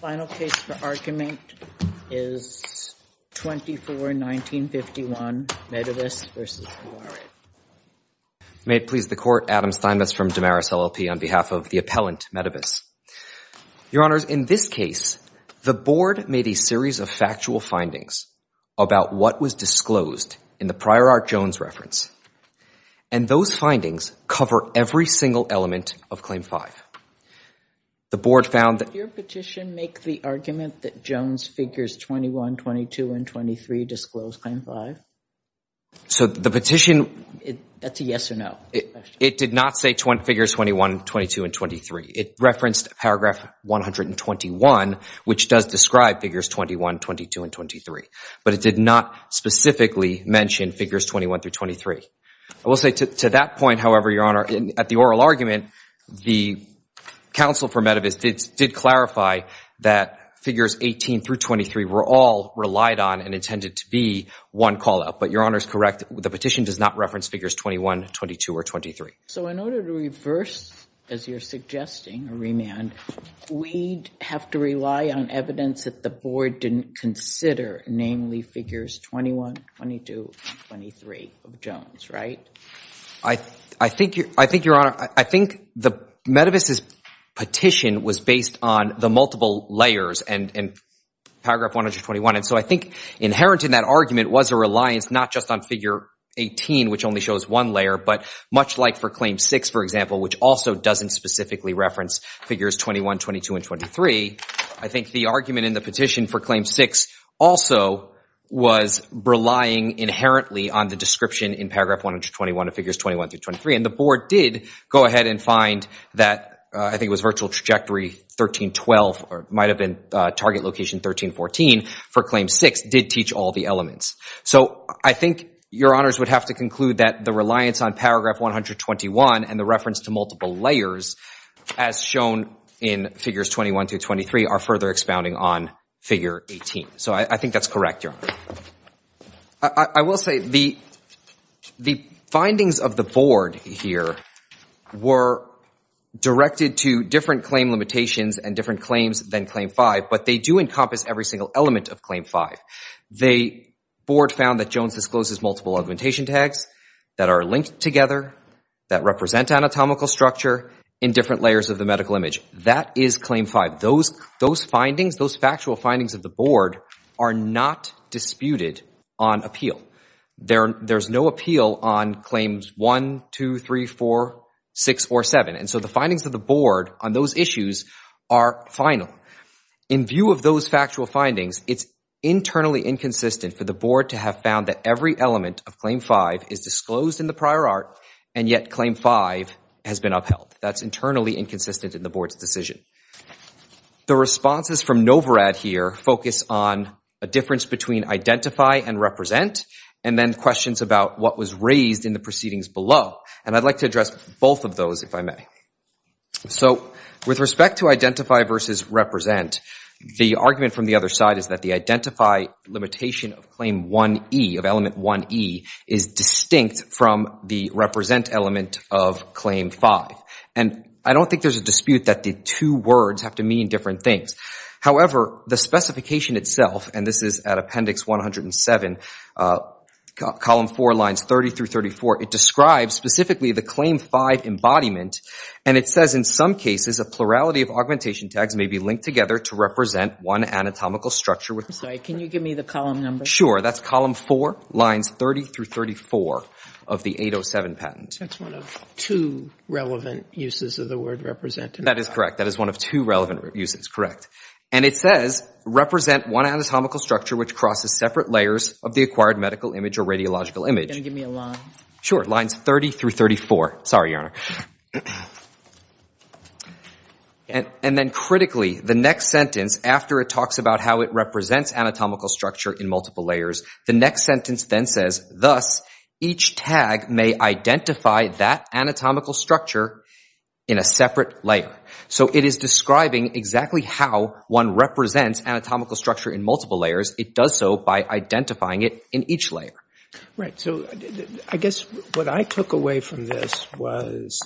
The final case for argument is 24-1951, Medivis v. Novarad. May it please the Court, Adam Steinmetz from Damaris LLP on behalf of the appellant, Medivis. Your Honors, in this case, the Board made a series of factual findings about what was disclosed in the Prior Art Jones reference, and those findings cover every single element of Claim 5. The Board found that— Did your petition make the argument that Jones Figures 21, 22, and 23 disclose Claim 5? So, the petition— That's a yes or no question. It did not say Figures 21, 22, and 23. It referenced Paragraph 121, which does describe Figures 21, 22, and 23. But it did not specifically mention Figures 21 through 23. I will say to that point, however, your Honor, at the oral argument, the counsel for Medivis did clarify that Figures 18 through 23 were all relied on and intended to be one call-out. But your Honor is correct. The petition does not reference Figures 21, 22, or 23. So, in order to reverse, as you're suggesting, or remand, we'd have to rely on evidence that the Board didn't consider, namely Figures 21, 22, and 23 of Jones, right? I think, your Honor, I think Medivis' petition was based on the multiple layers and Paragraph 121. And so, I think inherent in that argument was a reliance not just on Figure 18, which only shows one layer, but much like for Claim 6, for example, which also doesn't specifically reference Figures 21, 22, and 23. I think the argument in the petition for Claim 6 also was relying inherently on the description in Paragraph 121 of Figures 21 through 23. And the Board did go ahead and find that, I think it was Virtual Trajectory 1312, or it might have been Target Location 1314 for Claim 6, did teach all the elements. So, I think your Honors would have to conclude that the reliance on Paragraph 121 and the reference to multiple layers as shown in Figures 21 through 23 are further expounding on Figure 18. So, I think that's correct, your Honor. I will say the findings of the Board here were directed to different claim limitations and different claims than Claim 5, but they do encompass every single element of Claim 5. The Board found that Jones discloses multiple augmentation tags that are linked together, that represent anatomical structure in different layers of the medical image. That is Claim 5. Those findings, those factual findings of the Board are not disputed on appeal. There's no appeal on Claims 1, 2, 3, 4, 6, or 7. And so, the findings of the Board on those issues are final. In view of those factual findings, it's internally inconsistent for the Board to have found that every element of Claim 5 is disclosed in the prior art, and yet Claim 5 has been upheld. That's internally inconsistent in the Board's decision. The responses from NOVRAD here focus on a difference between identify and represent, and then questions about what was raised in the proceedings below. And I'd like to address both of those, if I may. So, with respect to identify versus represent, the argument from the other side is that the identify limitation of Claim 1E, of Element 1E, is distinct from the represent element of Claim 5. And I don't think there's a dispute that the two words have to mean different things. However, the specification itself, and this is at Appendix 107, Column 4, Lines 30 through 34, it describes specifically the Claim 5 embodiment, and it says, in some cases, a plurality of augmentation tags may be linked together to represent one anatomical structure. I'm sorry, can you give me the column number? Sure. That's Column 4, Lines 30 through 34 of the 807 patent. That's one of two relevant uses of the word represent. That is correct. That is one of two relevant uses, correct. And it says, represent one anatomical structure which crosses separate layers of the acquired medical image or radiological image. Can you give me a line? Sure. Lines 30 through 34. Sorry, Your Honor. And then critically, the next sentence, after it talks about how it represents anatomical structure in multiple layers, the next sentence then says, thus, each tag may identify that anatomical structure in a separate layer. So it is describing exactly how one represents anatomical structure in multiple layers. It does so by identifying it in each layer. Right. So I guess what I took away from this was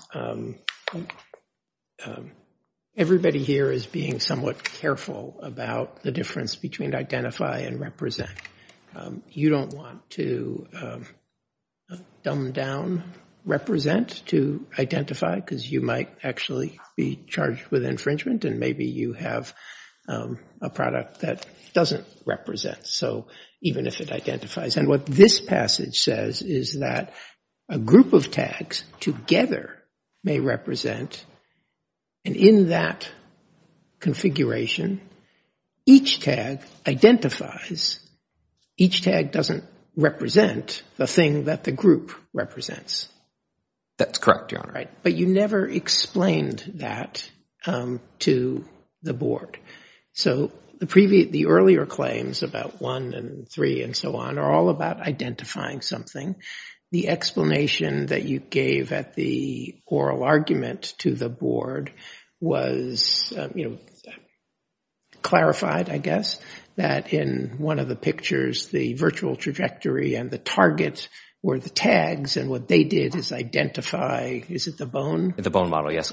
everybody here is being somewhat careful about the difference between identify and represent. You don't want to dumb down represent to identify because you might actually be charged with infringement and maybe you have a product that doesn't represent, even if it identifies. And what this passage says is that a group of tags together may represent. And in that configuration, each tag identifies. Each tag doesn't represent the thing that the group represents. That's correct, Your Honor. But you never explained that to the board. So the earlier claims about one and three and so on are all about identifying something. The explanation that you gave at the oral argument to the board was clarified, I guess, that in one of the pictures, the virtual trajectory and the target were the tags. And what they did is identify, is it the bone? The bone model, yes.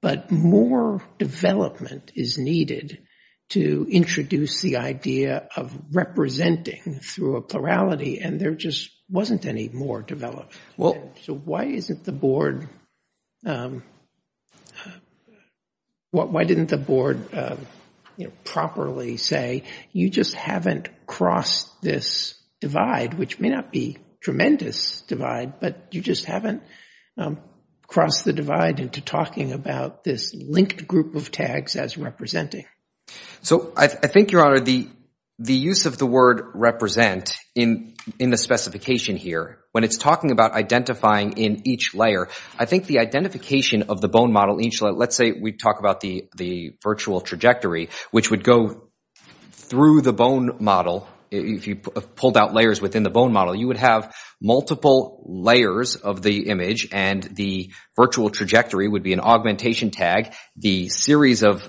But more development is needed to introduce the idea of representing through a plurality and there just wasn't any more development. So why didn't the board properly say, you just haven't crossed this divide, which may not be a tremendous divide, but you just haven't crossed the divide into talking about this linked group of tags as representing? So I think, Your Honor, the use of the word represent in the specification here, when it's talking about identifying in each layer, I think the identification of the bone model, let's say we talk about the virtual trajectory, which would go through the bone model. If you pulled out layers within the bone model, you would have multiple layers of the image and the virtual trajectory would be an augmentation tag. The series of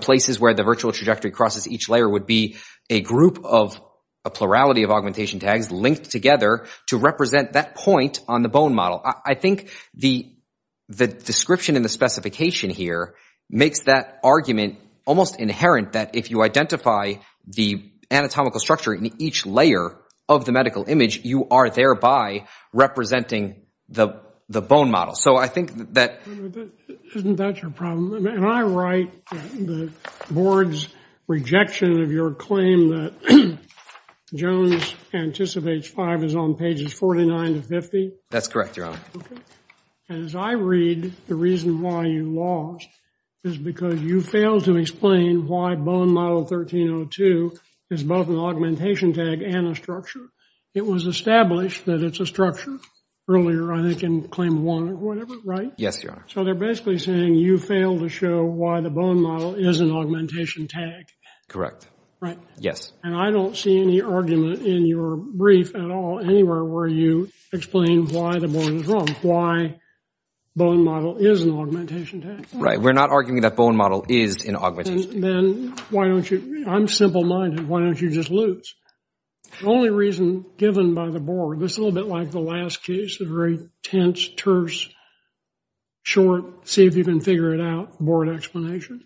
places where the virtual trajectory crosses each layer would be a group of, a plurality of augmentation tags linked together to represent that point on the bone model. I think the description in the specification here makes that argument almost inherent that if you identify the anatomical structure in each layer of the medical image, you are thereby representing the bone model. So I think that... Isn't that your problem? And I write the board's rejection of your claim that Jones anticipates five is on pages 49 to 50. That's correct, Your Honor. As I read, the reason why you lost is because you failed to explain why bone model 1302 is both an augmentation tag and a structure. It was established that it's a structure earlier, I think, in claim one or whatever, right? Yes, Your Honor. So they're basically saying you failed to show why the bone model is an augmentation tag. Correct. Right. Yes. And I don't see any argument in your brief at all anywhere where you explain why the board is wrong, why bone model is an augmentation tag. Right. We're not arguing that bone model is an augmentation tag. Then why don't you, I'm simple-minded, why don't you just lose? The only reason given by the board, this is a little bit like the last case, a very tense, terse, short, see if you can figure it out board explanation.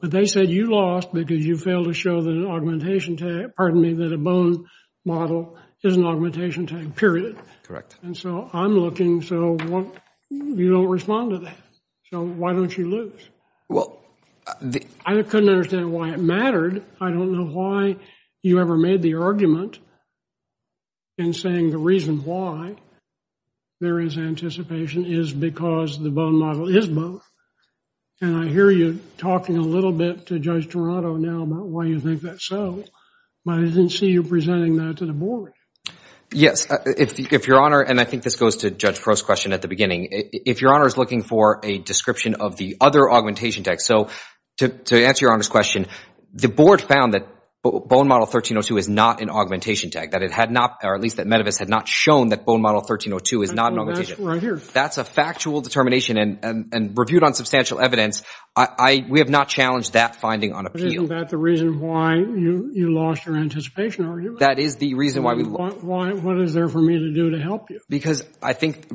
But they said you lost because you failed to show that an augmentation tag, pardon me, that a bone model is an augmentation tag, period. Correct. And so I'm looking, so you don't respond to that. So why don't you lose? Well, the – I couldn't understand why it mattered. I don't know why you ever made the argument in saying the reason why there is anticipation is because the bone model is both. And I hear you talking a little bit to Judge Toronto now about why you think that's so, but I didn't see you presenting that to the board. If Your Honor, and I think this goes to Judge Crow's question at the beginning, if Your Honor is looking for a description of the other augmentation tags, so to answer Your Honor's question, the board found that bone model 1302 is not an augmentation tag, that it had not, or at least that Medivis had not shown that bone model 1302 is not an augmentation tag. That's a factual determination and reviewed on substantial evidence. We have not challenged that finding on appeal. Isn't that the reason why you lost your anticipation argument? That is the reason why we lost it. What is there for me to do to help you? Because I think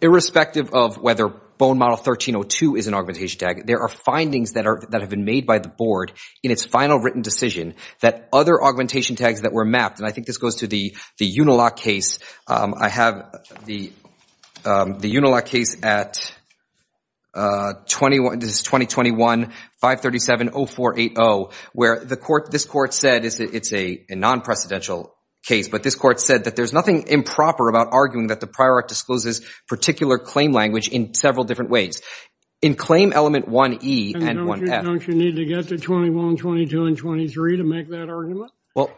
irrespective of whether bone model 1302 is an augmentation tag, there are findings that have been made by the board in its final written decision that other augmentation tags that were mapped, and I think this goes to the Unilock case. I have the Unilock case at this is 2021-537-0480, where this court said, it's a non-precedential case, but this court said that there's nothing improper about arguing that the prior act discloses particular claim language in several different ways. In claim element 1E and 1F. Don't you need to get to 21, 22, and 23 to make that argument? Well,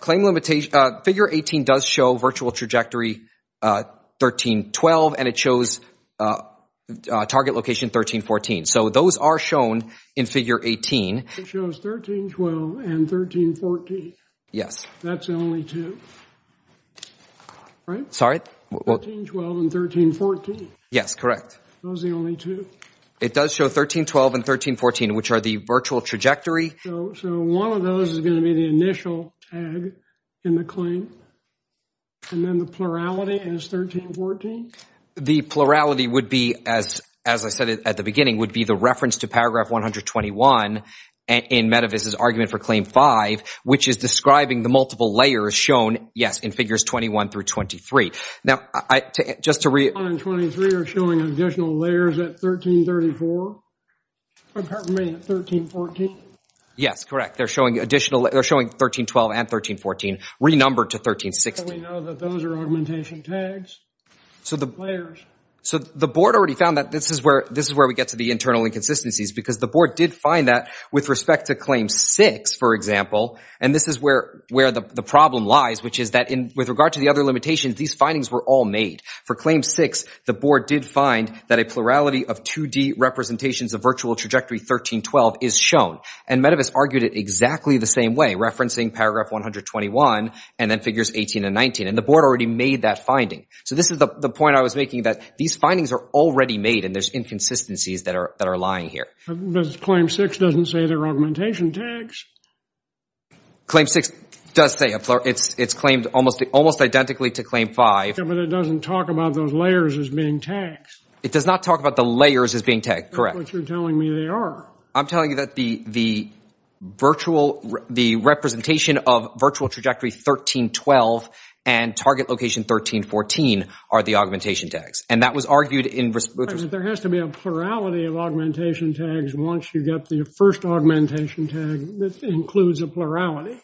claim limitation, figure 18 does show virtual trajectory 13-12, and it shows target location 13-14. So those are shown in figure 18. It shows 13-12 and 13-14. Yes. That's the only two, right? Sorry? 13-12 and 13-14. Yes, correct. Those are the only two. It does show 13-12 and 13-14, which are the virtual trajectory. So one of those is going to be the initial tag in the claim, and then the plurality is 13-14? The plurality would be, as I said at the beginning, would be the reference to paragraph 121 in Medevice's argument for claim 5, which is describing the multiple layers shown, yes, in figures 21 through 23. Now, just to re- 21 and 23 are showing additional layers at 13-34? Pardon me, 13-14? Yes, correct. They're showing 13-12 and 13-14 renumbered to 13-16. So we know that those are augmentation tags? So the board already found that this is where we get to the internal inconsistencies because the board did find that with respect to claim 6, for example, and this is where the problem lies, which is that with regard to the other limitations, these findings were all made. For claim 6, the board did find that a plurality of 2D representations of virtual trajectory 13-12 is shown, and Medevice argued it exactly the same way, referencing paragraph 121 and then figures 18 and 19, and the board already made that finding. So this is the point I was making, that these findings are already made and there's inconsistencies that are lying here. But claim 6 doesn't say they're augmentation tags. Claim 6 does say it's claimed almost identically to claim 5. But it doesn't talk about those layers as being tags. It does not talk about the layers as being tags, correct. That's what you're telling me they are. I'm telling you that the representation of virtual trajectory 13-12 and target location 13-14 are the augmentation tags. And that was argued in respect to— But there has to be a plurality of augmentation tags once you get the first augmentation tag that includes a plurality.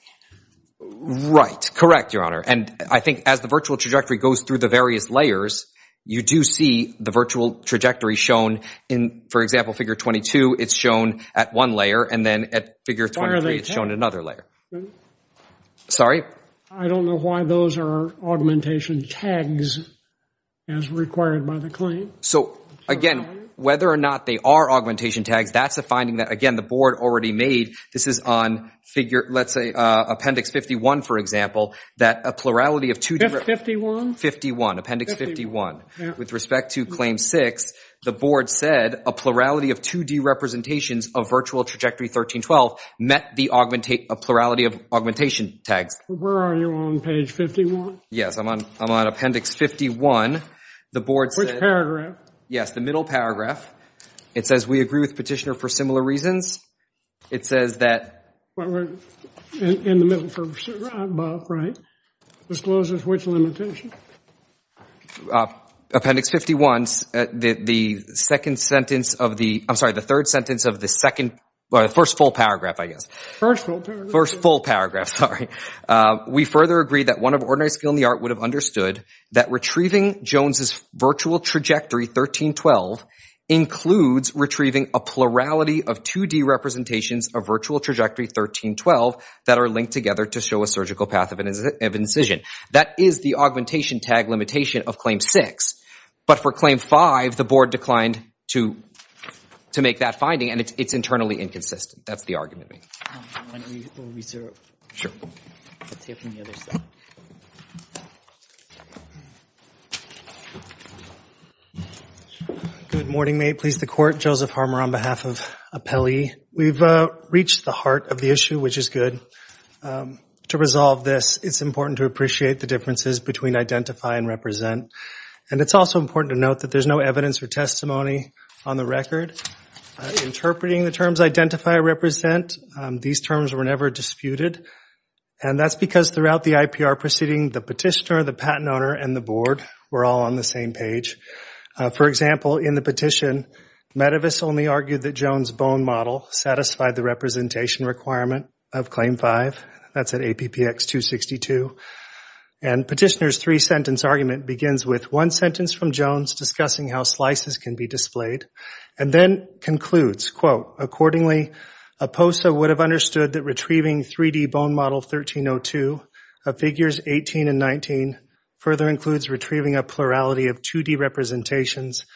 Right, correct, Your Honor. And I think as the virtual trajectory goes through the various layers, you do see the virtual trajectory shown in, for example, figure 22. It's shown at one layer, and then at figure 23 it's shown at another layer. Sorry? I don't know why those are augmentation tags as required by the claim. So, again, whether or not they are augmentation tags, that's a finding that, again, the board already made. This is on, let's say, appendix 51, for example, that a plurality of— 51? 51, appendix 51. With respect to claim 6, the board said a plurality of 2D representations of virtual trajectory 13-12 met the plurality of augmentation tags. Where are you on page 51? Yes, I'm on appendix 51. Which paragraph? Yes, the middle paragraph. It says we agree with Petitioner for similar reasons. It says that— In the middle for Bob, right? Discloses which limitation? Appendix 51, the second sentence of the— I'm sorry, the third sentence of the second— or the first full paragraph, I guess. First full paragraph. First full paragraph, sorry. We further agree that one of ordinary skill in the art would have understood that retrieving Jones's virtual trajectory 13-12 includes retrieving a plurality of 2D representations of virtual trajectory 13-12 that are linked together to show a surgical path of incision. That is the augmentation tag limitation of claim 6. But for claim 5, the board declined to make that finding, and it's internally inconsistent. That's the argument I make. I'm going to read the research. Sure. Let's see if we can get this up. Good morning. May it please the Court. Joseph Harmer on behalf of Appellee. We've reached the heart of the issue, which is good. To resolve this, it's important to appreciate the differences between identify and represent. And it's also important to note that there's no evidence or testimony on the record. Interpreting the terms identify and represent, these terms were never disputed, and that's because throughout the IPR proceeding, the petitioner, the patent owner, and the board were all on the same page. For example, in the petition, Metavis only argued that Jones' bone model satisfied the representation requirement of claim 5. That's at APPX 262. And petitioner's three-sentence argument begins with one sentence from Jones discussing how slices can be displayed and then concludes, quote, Accordingly, a POSA would have understood that retrieving 3D bone model 13-02 of figures 18 and 19 further includes retrieving a plurality of 2D representations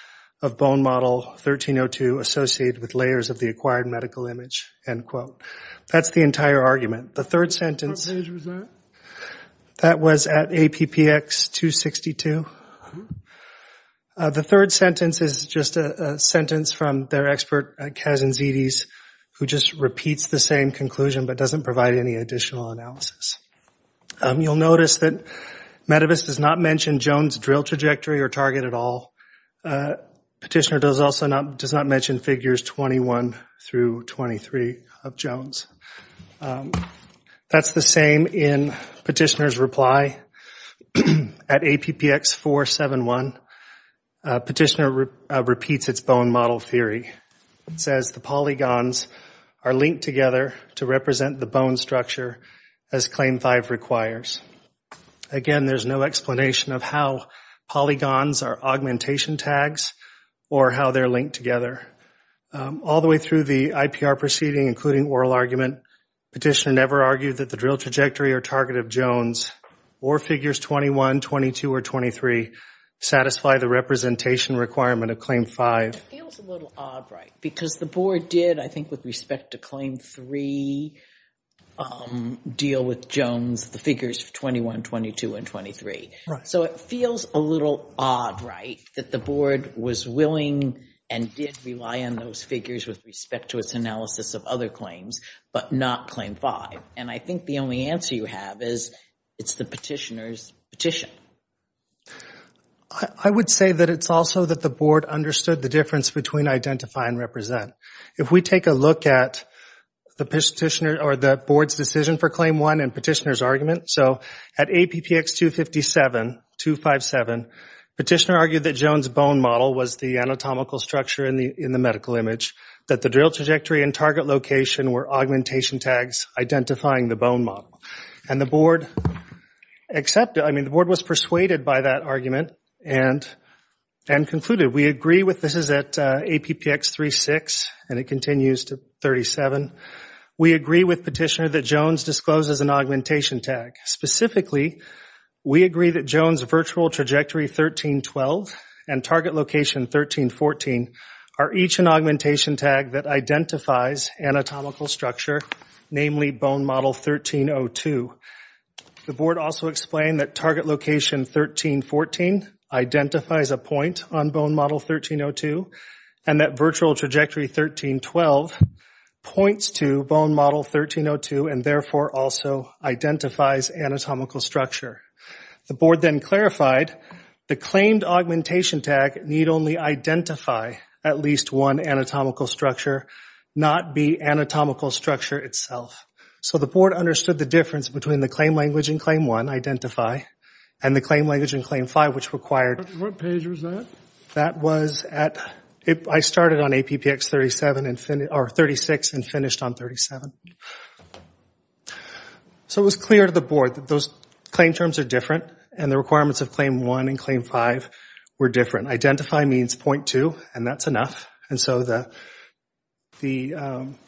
of bone model 13-02 associated with layers of the acquired medical image. End quote. That's the entire argument. The third sentence... What page was that? That was at APPX 262. The third sentence is just a sentence from their expert, Kazanzides, who just repeats the same conclusion but doesn't provide any additional analysis. You'll notice that Metavis does not mention Jones' drill trajectory or target at all. Petitioner does not mention figures 21 through 23 of Jones. That's the same in petitioner's reply at APPX 471. Petitioner repeats its bone model theory. It says the polygons are linked together to represent the bone structure as Claim 5 requires. Again, there's no explanation of how polygons are augmentation tags or how they're linked together. All the way through the IPR proceeding, including oral argument, petitioner never argued that the drill trajectory or target of Jones or figures 21, 22, or 23 satisfy the representation requirement of Claim 5. It feels a little odd, right, because the board did, I think, with respect to Claim 3, deal with Jones, the figures 21, 22, and 23. So it feels a little odd, right, that the board was willing and did rely on those figures with respect to its analysis of other claims but not Claim 5. And I think the only answer you have is it's the petitioner's petition. I would say that it's also that the board understood the difference between identify and represent. If we take a look at the board's decision for Claim 1 and petitioner's argument, so at APPX 257, petitioner argued that Jones' bone model was the anatomical structure in the medical image, that the drill trajectory and target location were augmentation tags identifying the bone model. And the board accepted, I mean, the board was persuaded by that argument and concluded, we agree with, this is at APPX 36, and it continues to 37, we agree with petitioner that Jones discloses an augmentation tag. Specifically, we agree that Jones' virtual trajectory 13, 12, and target location 13, 14 are each an augmentation tag that identifies anatomical structure, namely bone model 13, 0, 2. The board also explained that target location 13, 14 identifies a point on bone model 13, 0, 2, and that virtual trajectory 13, 12 points to bone model 13, 0, 2, and therefore also identifies anatomical structure. The board then clarified the claimed augmentation tag need only identify at least one anatomical structure, not be anatomical structure itself. So the board understood the difference between the claim language in Claim 1, identify, and the claim language in Claim 5, which required... What page was that? That was at, I started on APPX 36 and finished on 37. So it was clear to the board that those claim terms are different and the requirements of Claim 1 and Claim 5 were different. Identify means 0.2, and that's enough. And so the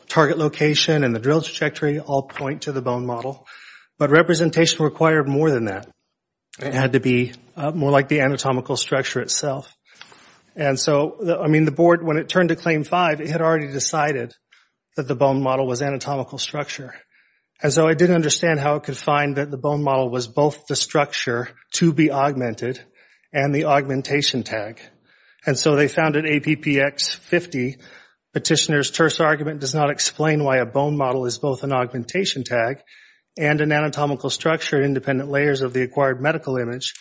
target location and the drill trajectory all point to the bone model. But representation required more than that. It had to be more like the anatomical structure itself. And so, I mean, the board, when it turned to Claim 5, it had already decided that the bone model was anatomical structure. And so I didn't understand how it could find that the bone model was both the structure to be augmented and the augmentation tag. And so they found at APPX 50, Petitioner's terse argument does not explain why a bone model is both an augmentation tag and an anatomical structure in independent layers of the acquired medical image.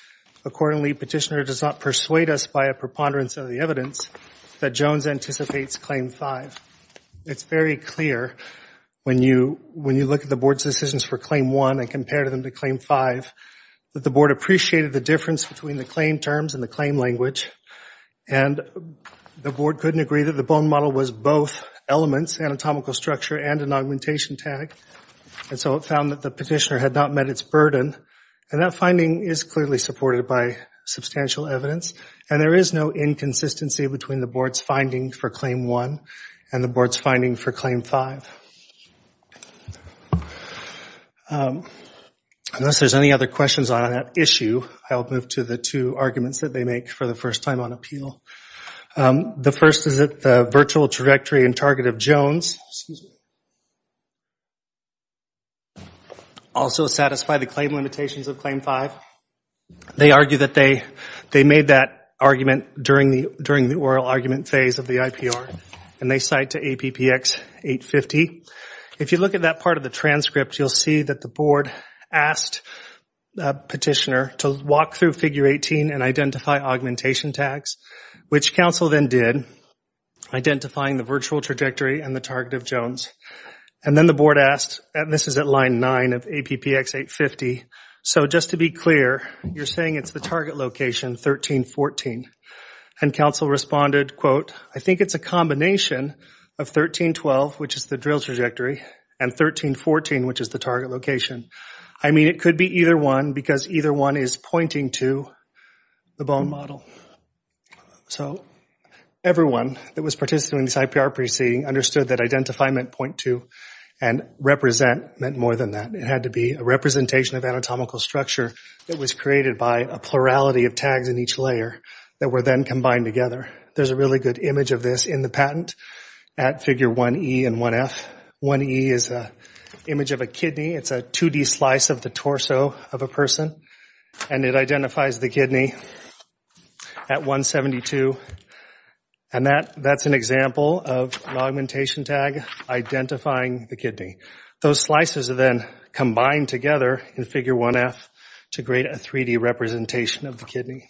Accordingly, Petitioner does not persuade us by a preponderance of the evidence that Jones anticipates Claim 5. It's very clear when you look at the board's decisions for Claim 1 and compare them to Claim 5 that the board appreciated the difference between the claim terms and the claim language. And the board couldn't agree that the bone model was both elements, anatomical structure and an augmentation tag. And so it found that the petitioner had not met its burden. And that finding is clearly supported by substantial evidence. And there is no inconsistency between the board's finding for Claim 1 and the board's finding for Claim 5. Unless there's any other questions on that issue, I'll move to the two arguments that they make for the first time on appeal. The first is that the virtual trajectory and target of Jones also satisfy the claim limitations of Claim 5. They argue that they made that argument during the oral argument phase of the IPR, and they cite to APPX 850. If you look at that part of the transcript, you'll see that the board asked Petitioner to walk through Figure 18 and identify augmentation tags, which counsel then did, identifying the virtual trajectory and the target of Jones. And then the board asked, and this is at line 9 of APPX 850. So just to be clear, you're saying it's the target location, 1314. And counsel responded, quote, I think it's a combination of 1312, which is the drill trajectory, and 1314, which is the target location. I mean, it could be either one, because either one is pointing to the bone model. So everyone that was participating in this IPR proceeding understood that identify meant point to, and represent meant more than that. It had to be a representation of anatomical structure that was created by a plurality of tags in each layer that were then combined together. There's a really good image of this in the patent at Figure 1E and 1F. 1E is an image of a kidney. It's a 2D slice of the torso of a person, and it identifies the kidney at 172. And that's an example of an augmentation tag identifying the kidney. Those slices are then combined together in Figure 1F to create a 3D representation of the kidney.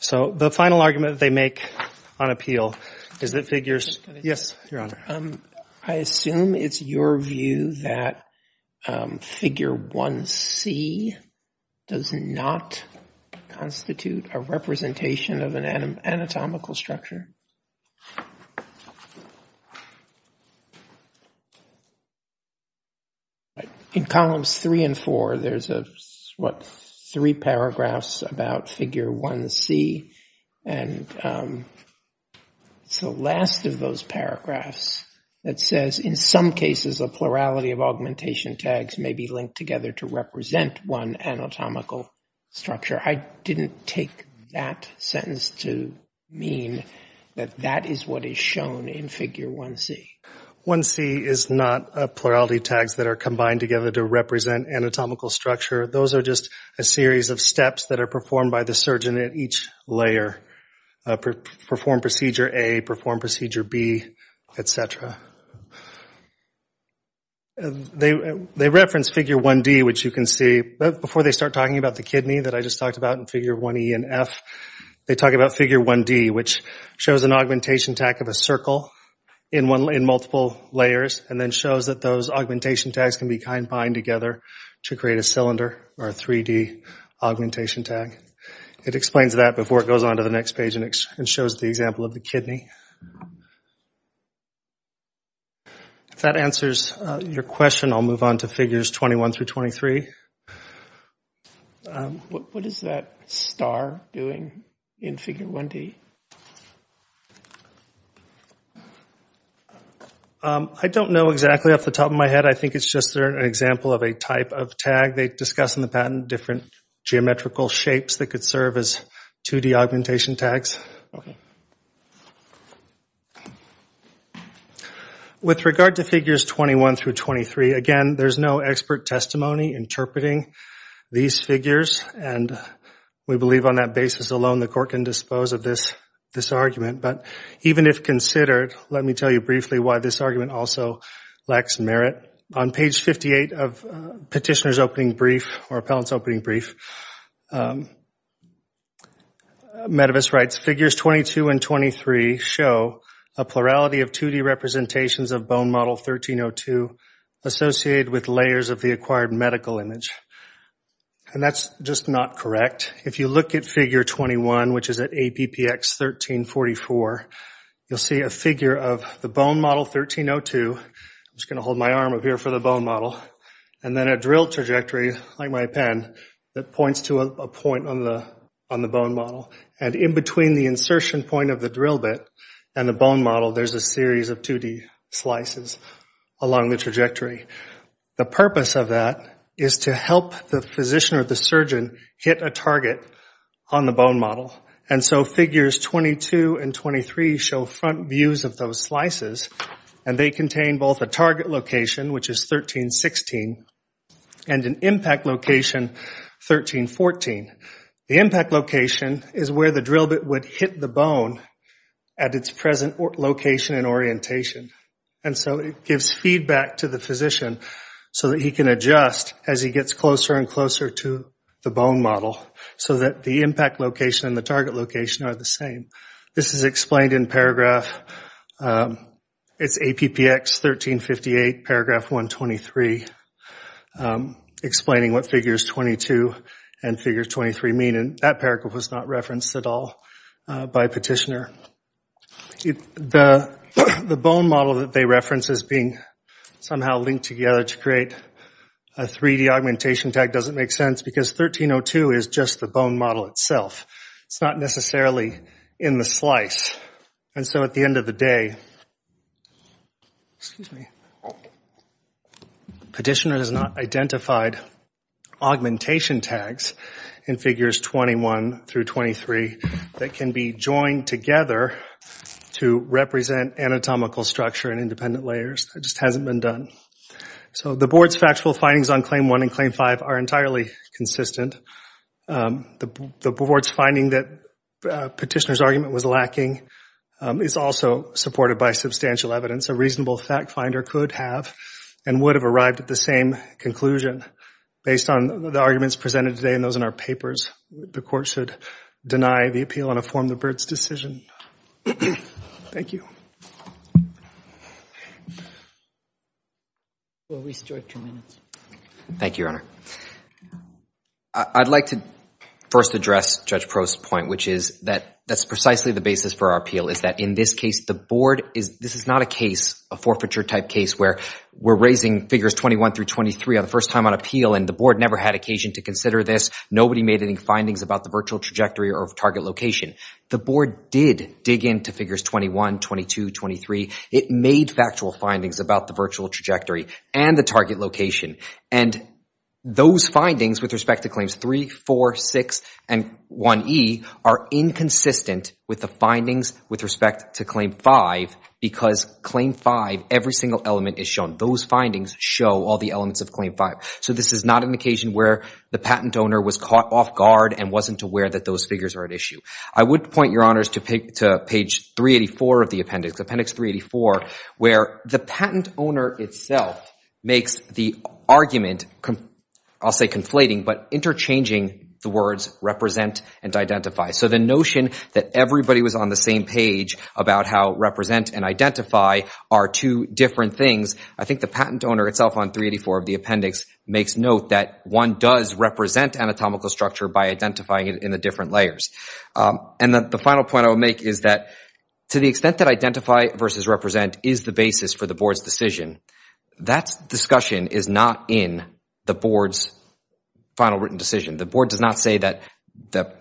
So the final argument they make on appeal is that figures — yes, Your Honor. I assume it's your view that Figure 1C does not constitute a representation of an anatomical structure. In columns three and four, there's, what, three paragraphs about Figure 1C. And it's the last of those paragraphs that says, in some cases, a plurality of augmentation tags may be linked together to represent one anatomical structure. I didn't take that sentence to mean that that is what is shown in Figure 1C. 1C is not a plurality of tags that are combined together to represent anatomical structure. Those are just a series of steps that are performed by the surgeon at each layer. Perform procedure A, perform procedure B, et cetera. They reference Figure 1D, which you can see. Before they start talking about the kidney that I just talked about in Figure 1E and F, they talk about Figure 1D, which shows an augmentation tag of a circle in multiple layers and then shows that those augmentation tags can be combined together to create a cylinder or a 3D augmentation tag. It explains that before it goes on to the next page and shows the example of the kidney. If that answers your question, I'll move on to Figures 21 through 23. What is that star doing in Figure 1D? I don't know exactly off the top of my head. I think it's just an example of a type of tag. They discuss in the patent different geometrical shapes that could serve as 2D augmentation tags. With regard to Figures 21 through 23, again, there's no expert testimony interpreting these figures. We believe on that basis alone the court can dispose of this argument. Even if considered, let me tell you briefly why this argument also lacks merit. On page 58 of Petitioner's Opening Brief or Appellant's Opening Brief, Metavis writes, Figures 22 and 23 show a plurality of 2D representations of bone model 1302 associated with layers of the acquired medical image. That's just not correct. If you look at Figure 21, which is at APPX 1344, you'll see a figure of the bone model 1302. I'm just going to hold my arm up here for the bone model. And then a drill trajectory, like my pen, that points to a point on the bone model. And in between the insertion point of the drill bit and the bone model, there's a series of 2D slices along the trajectory. The purpose of that is to help the physician or the surgeon hit a target on the bone model. And so Figures 22 and 23 show front views of those slices. And they contain both a target location, which is 1316, and an impact location, 1314. The impact location is where the drill bit would hit the bone at its present location and orientation. And so it gives feedback to the physician so that he can adjust as he gets closer and closer to the bone model, so that the impact location and the target location are the same. It's APPX 1358, Paragraph 123, explaining what Figures 22 and Figures 23 mean. And that paragraph was not referenced at all by Petitioner. The bone model that they reference as being somehow linked together to create a 3D augmentation tag doesn't make sense, because 1302 is just the bone model itself. It's not necessarily in the slice. And so at the end of the day, Petitioner has not identified augmentation tags in Figures 21 through 23 that can be joined together to represent anatomical structure and independent layers. It just hasn't been done. So the Board's factual findings on Claim 1 and Claim 5 are entirely consistent. The Board's finding that Petitioner's argument was lacking is also supported by substantial evidence. A reasonable fact finder could have and would have arrived at the same conclusion based on the arguments presented today and those in our papers. The Court should deny the appeal and affirm the Byrd's decision. Thank you. Thank you, Your Honor. I'd like to first address Judge Prost's point, which is that that's precisely the basis for our appeal, is that in this case, the Board is, this is not a case, a forfeiture type case, where we're raising Figures 21 through 23 for the first time on appeal and the Board never had occasion to consider this. Nobody made any findings about the virtual trajectory or target location. The Board did dig into Figures 21, 22, 23. It made factual findings about the virtual trajectory and the target location, and those findings with respect to Claims 3, 4, 6 and 1E are inconsistent with the findings with respect to Claim 5 because Claim 5, every single element is shown. Those findings show all the elements of Claim 5. So this is not an occasion where the patent owner was caught off guard and wasn't aware that those figures are at issue. I would point, Your Honors, to page 384 of the appendix, appendix 384, where the patent owner itself makes the argument, I'll say conflating, but interchanging the words represent and identify. So the notion that everybody was on the same page about how represent and identify are two different things. I think the patent owner itself on 384 of the appendix makes note that one does represent anatomical structure by identifying it in the different layers. And the final point I would make is that to the extent that identify versus represent is the basis for the Board's decision, that discussion is not in the Board's final written decision. The Board does not say that the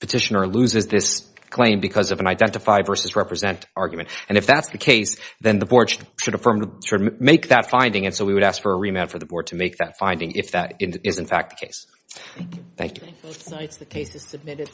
petitioner loses this claim because of an identify versus represent argument. And if that's the case, then the Board should make that finding and so we would ask for a remand for the Board to make that finding if that is in fact the case. Thank you.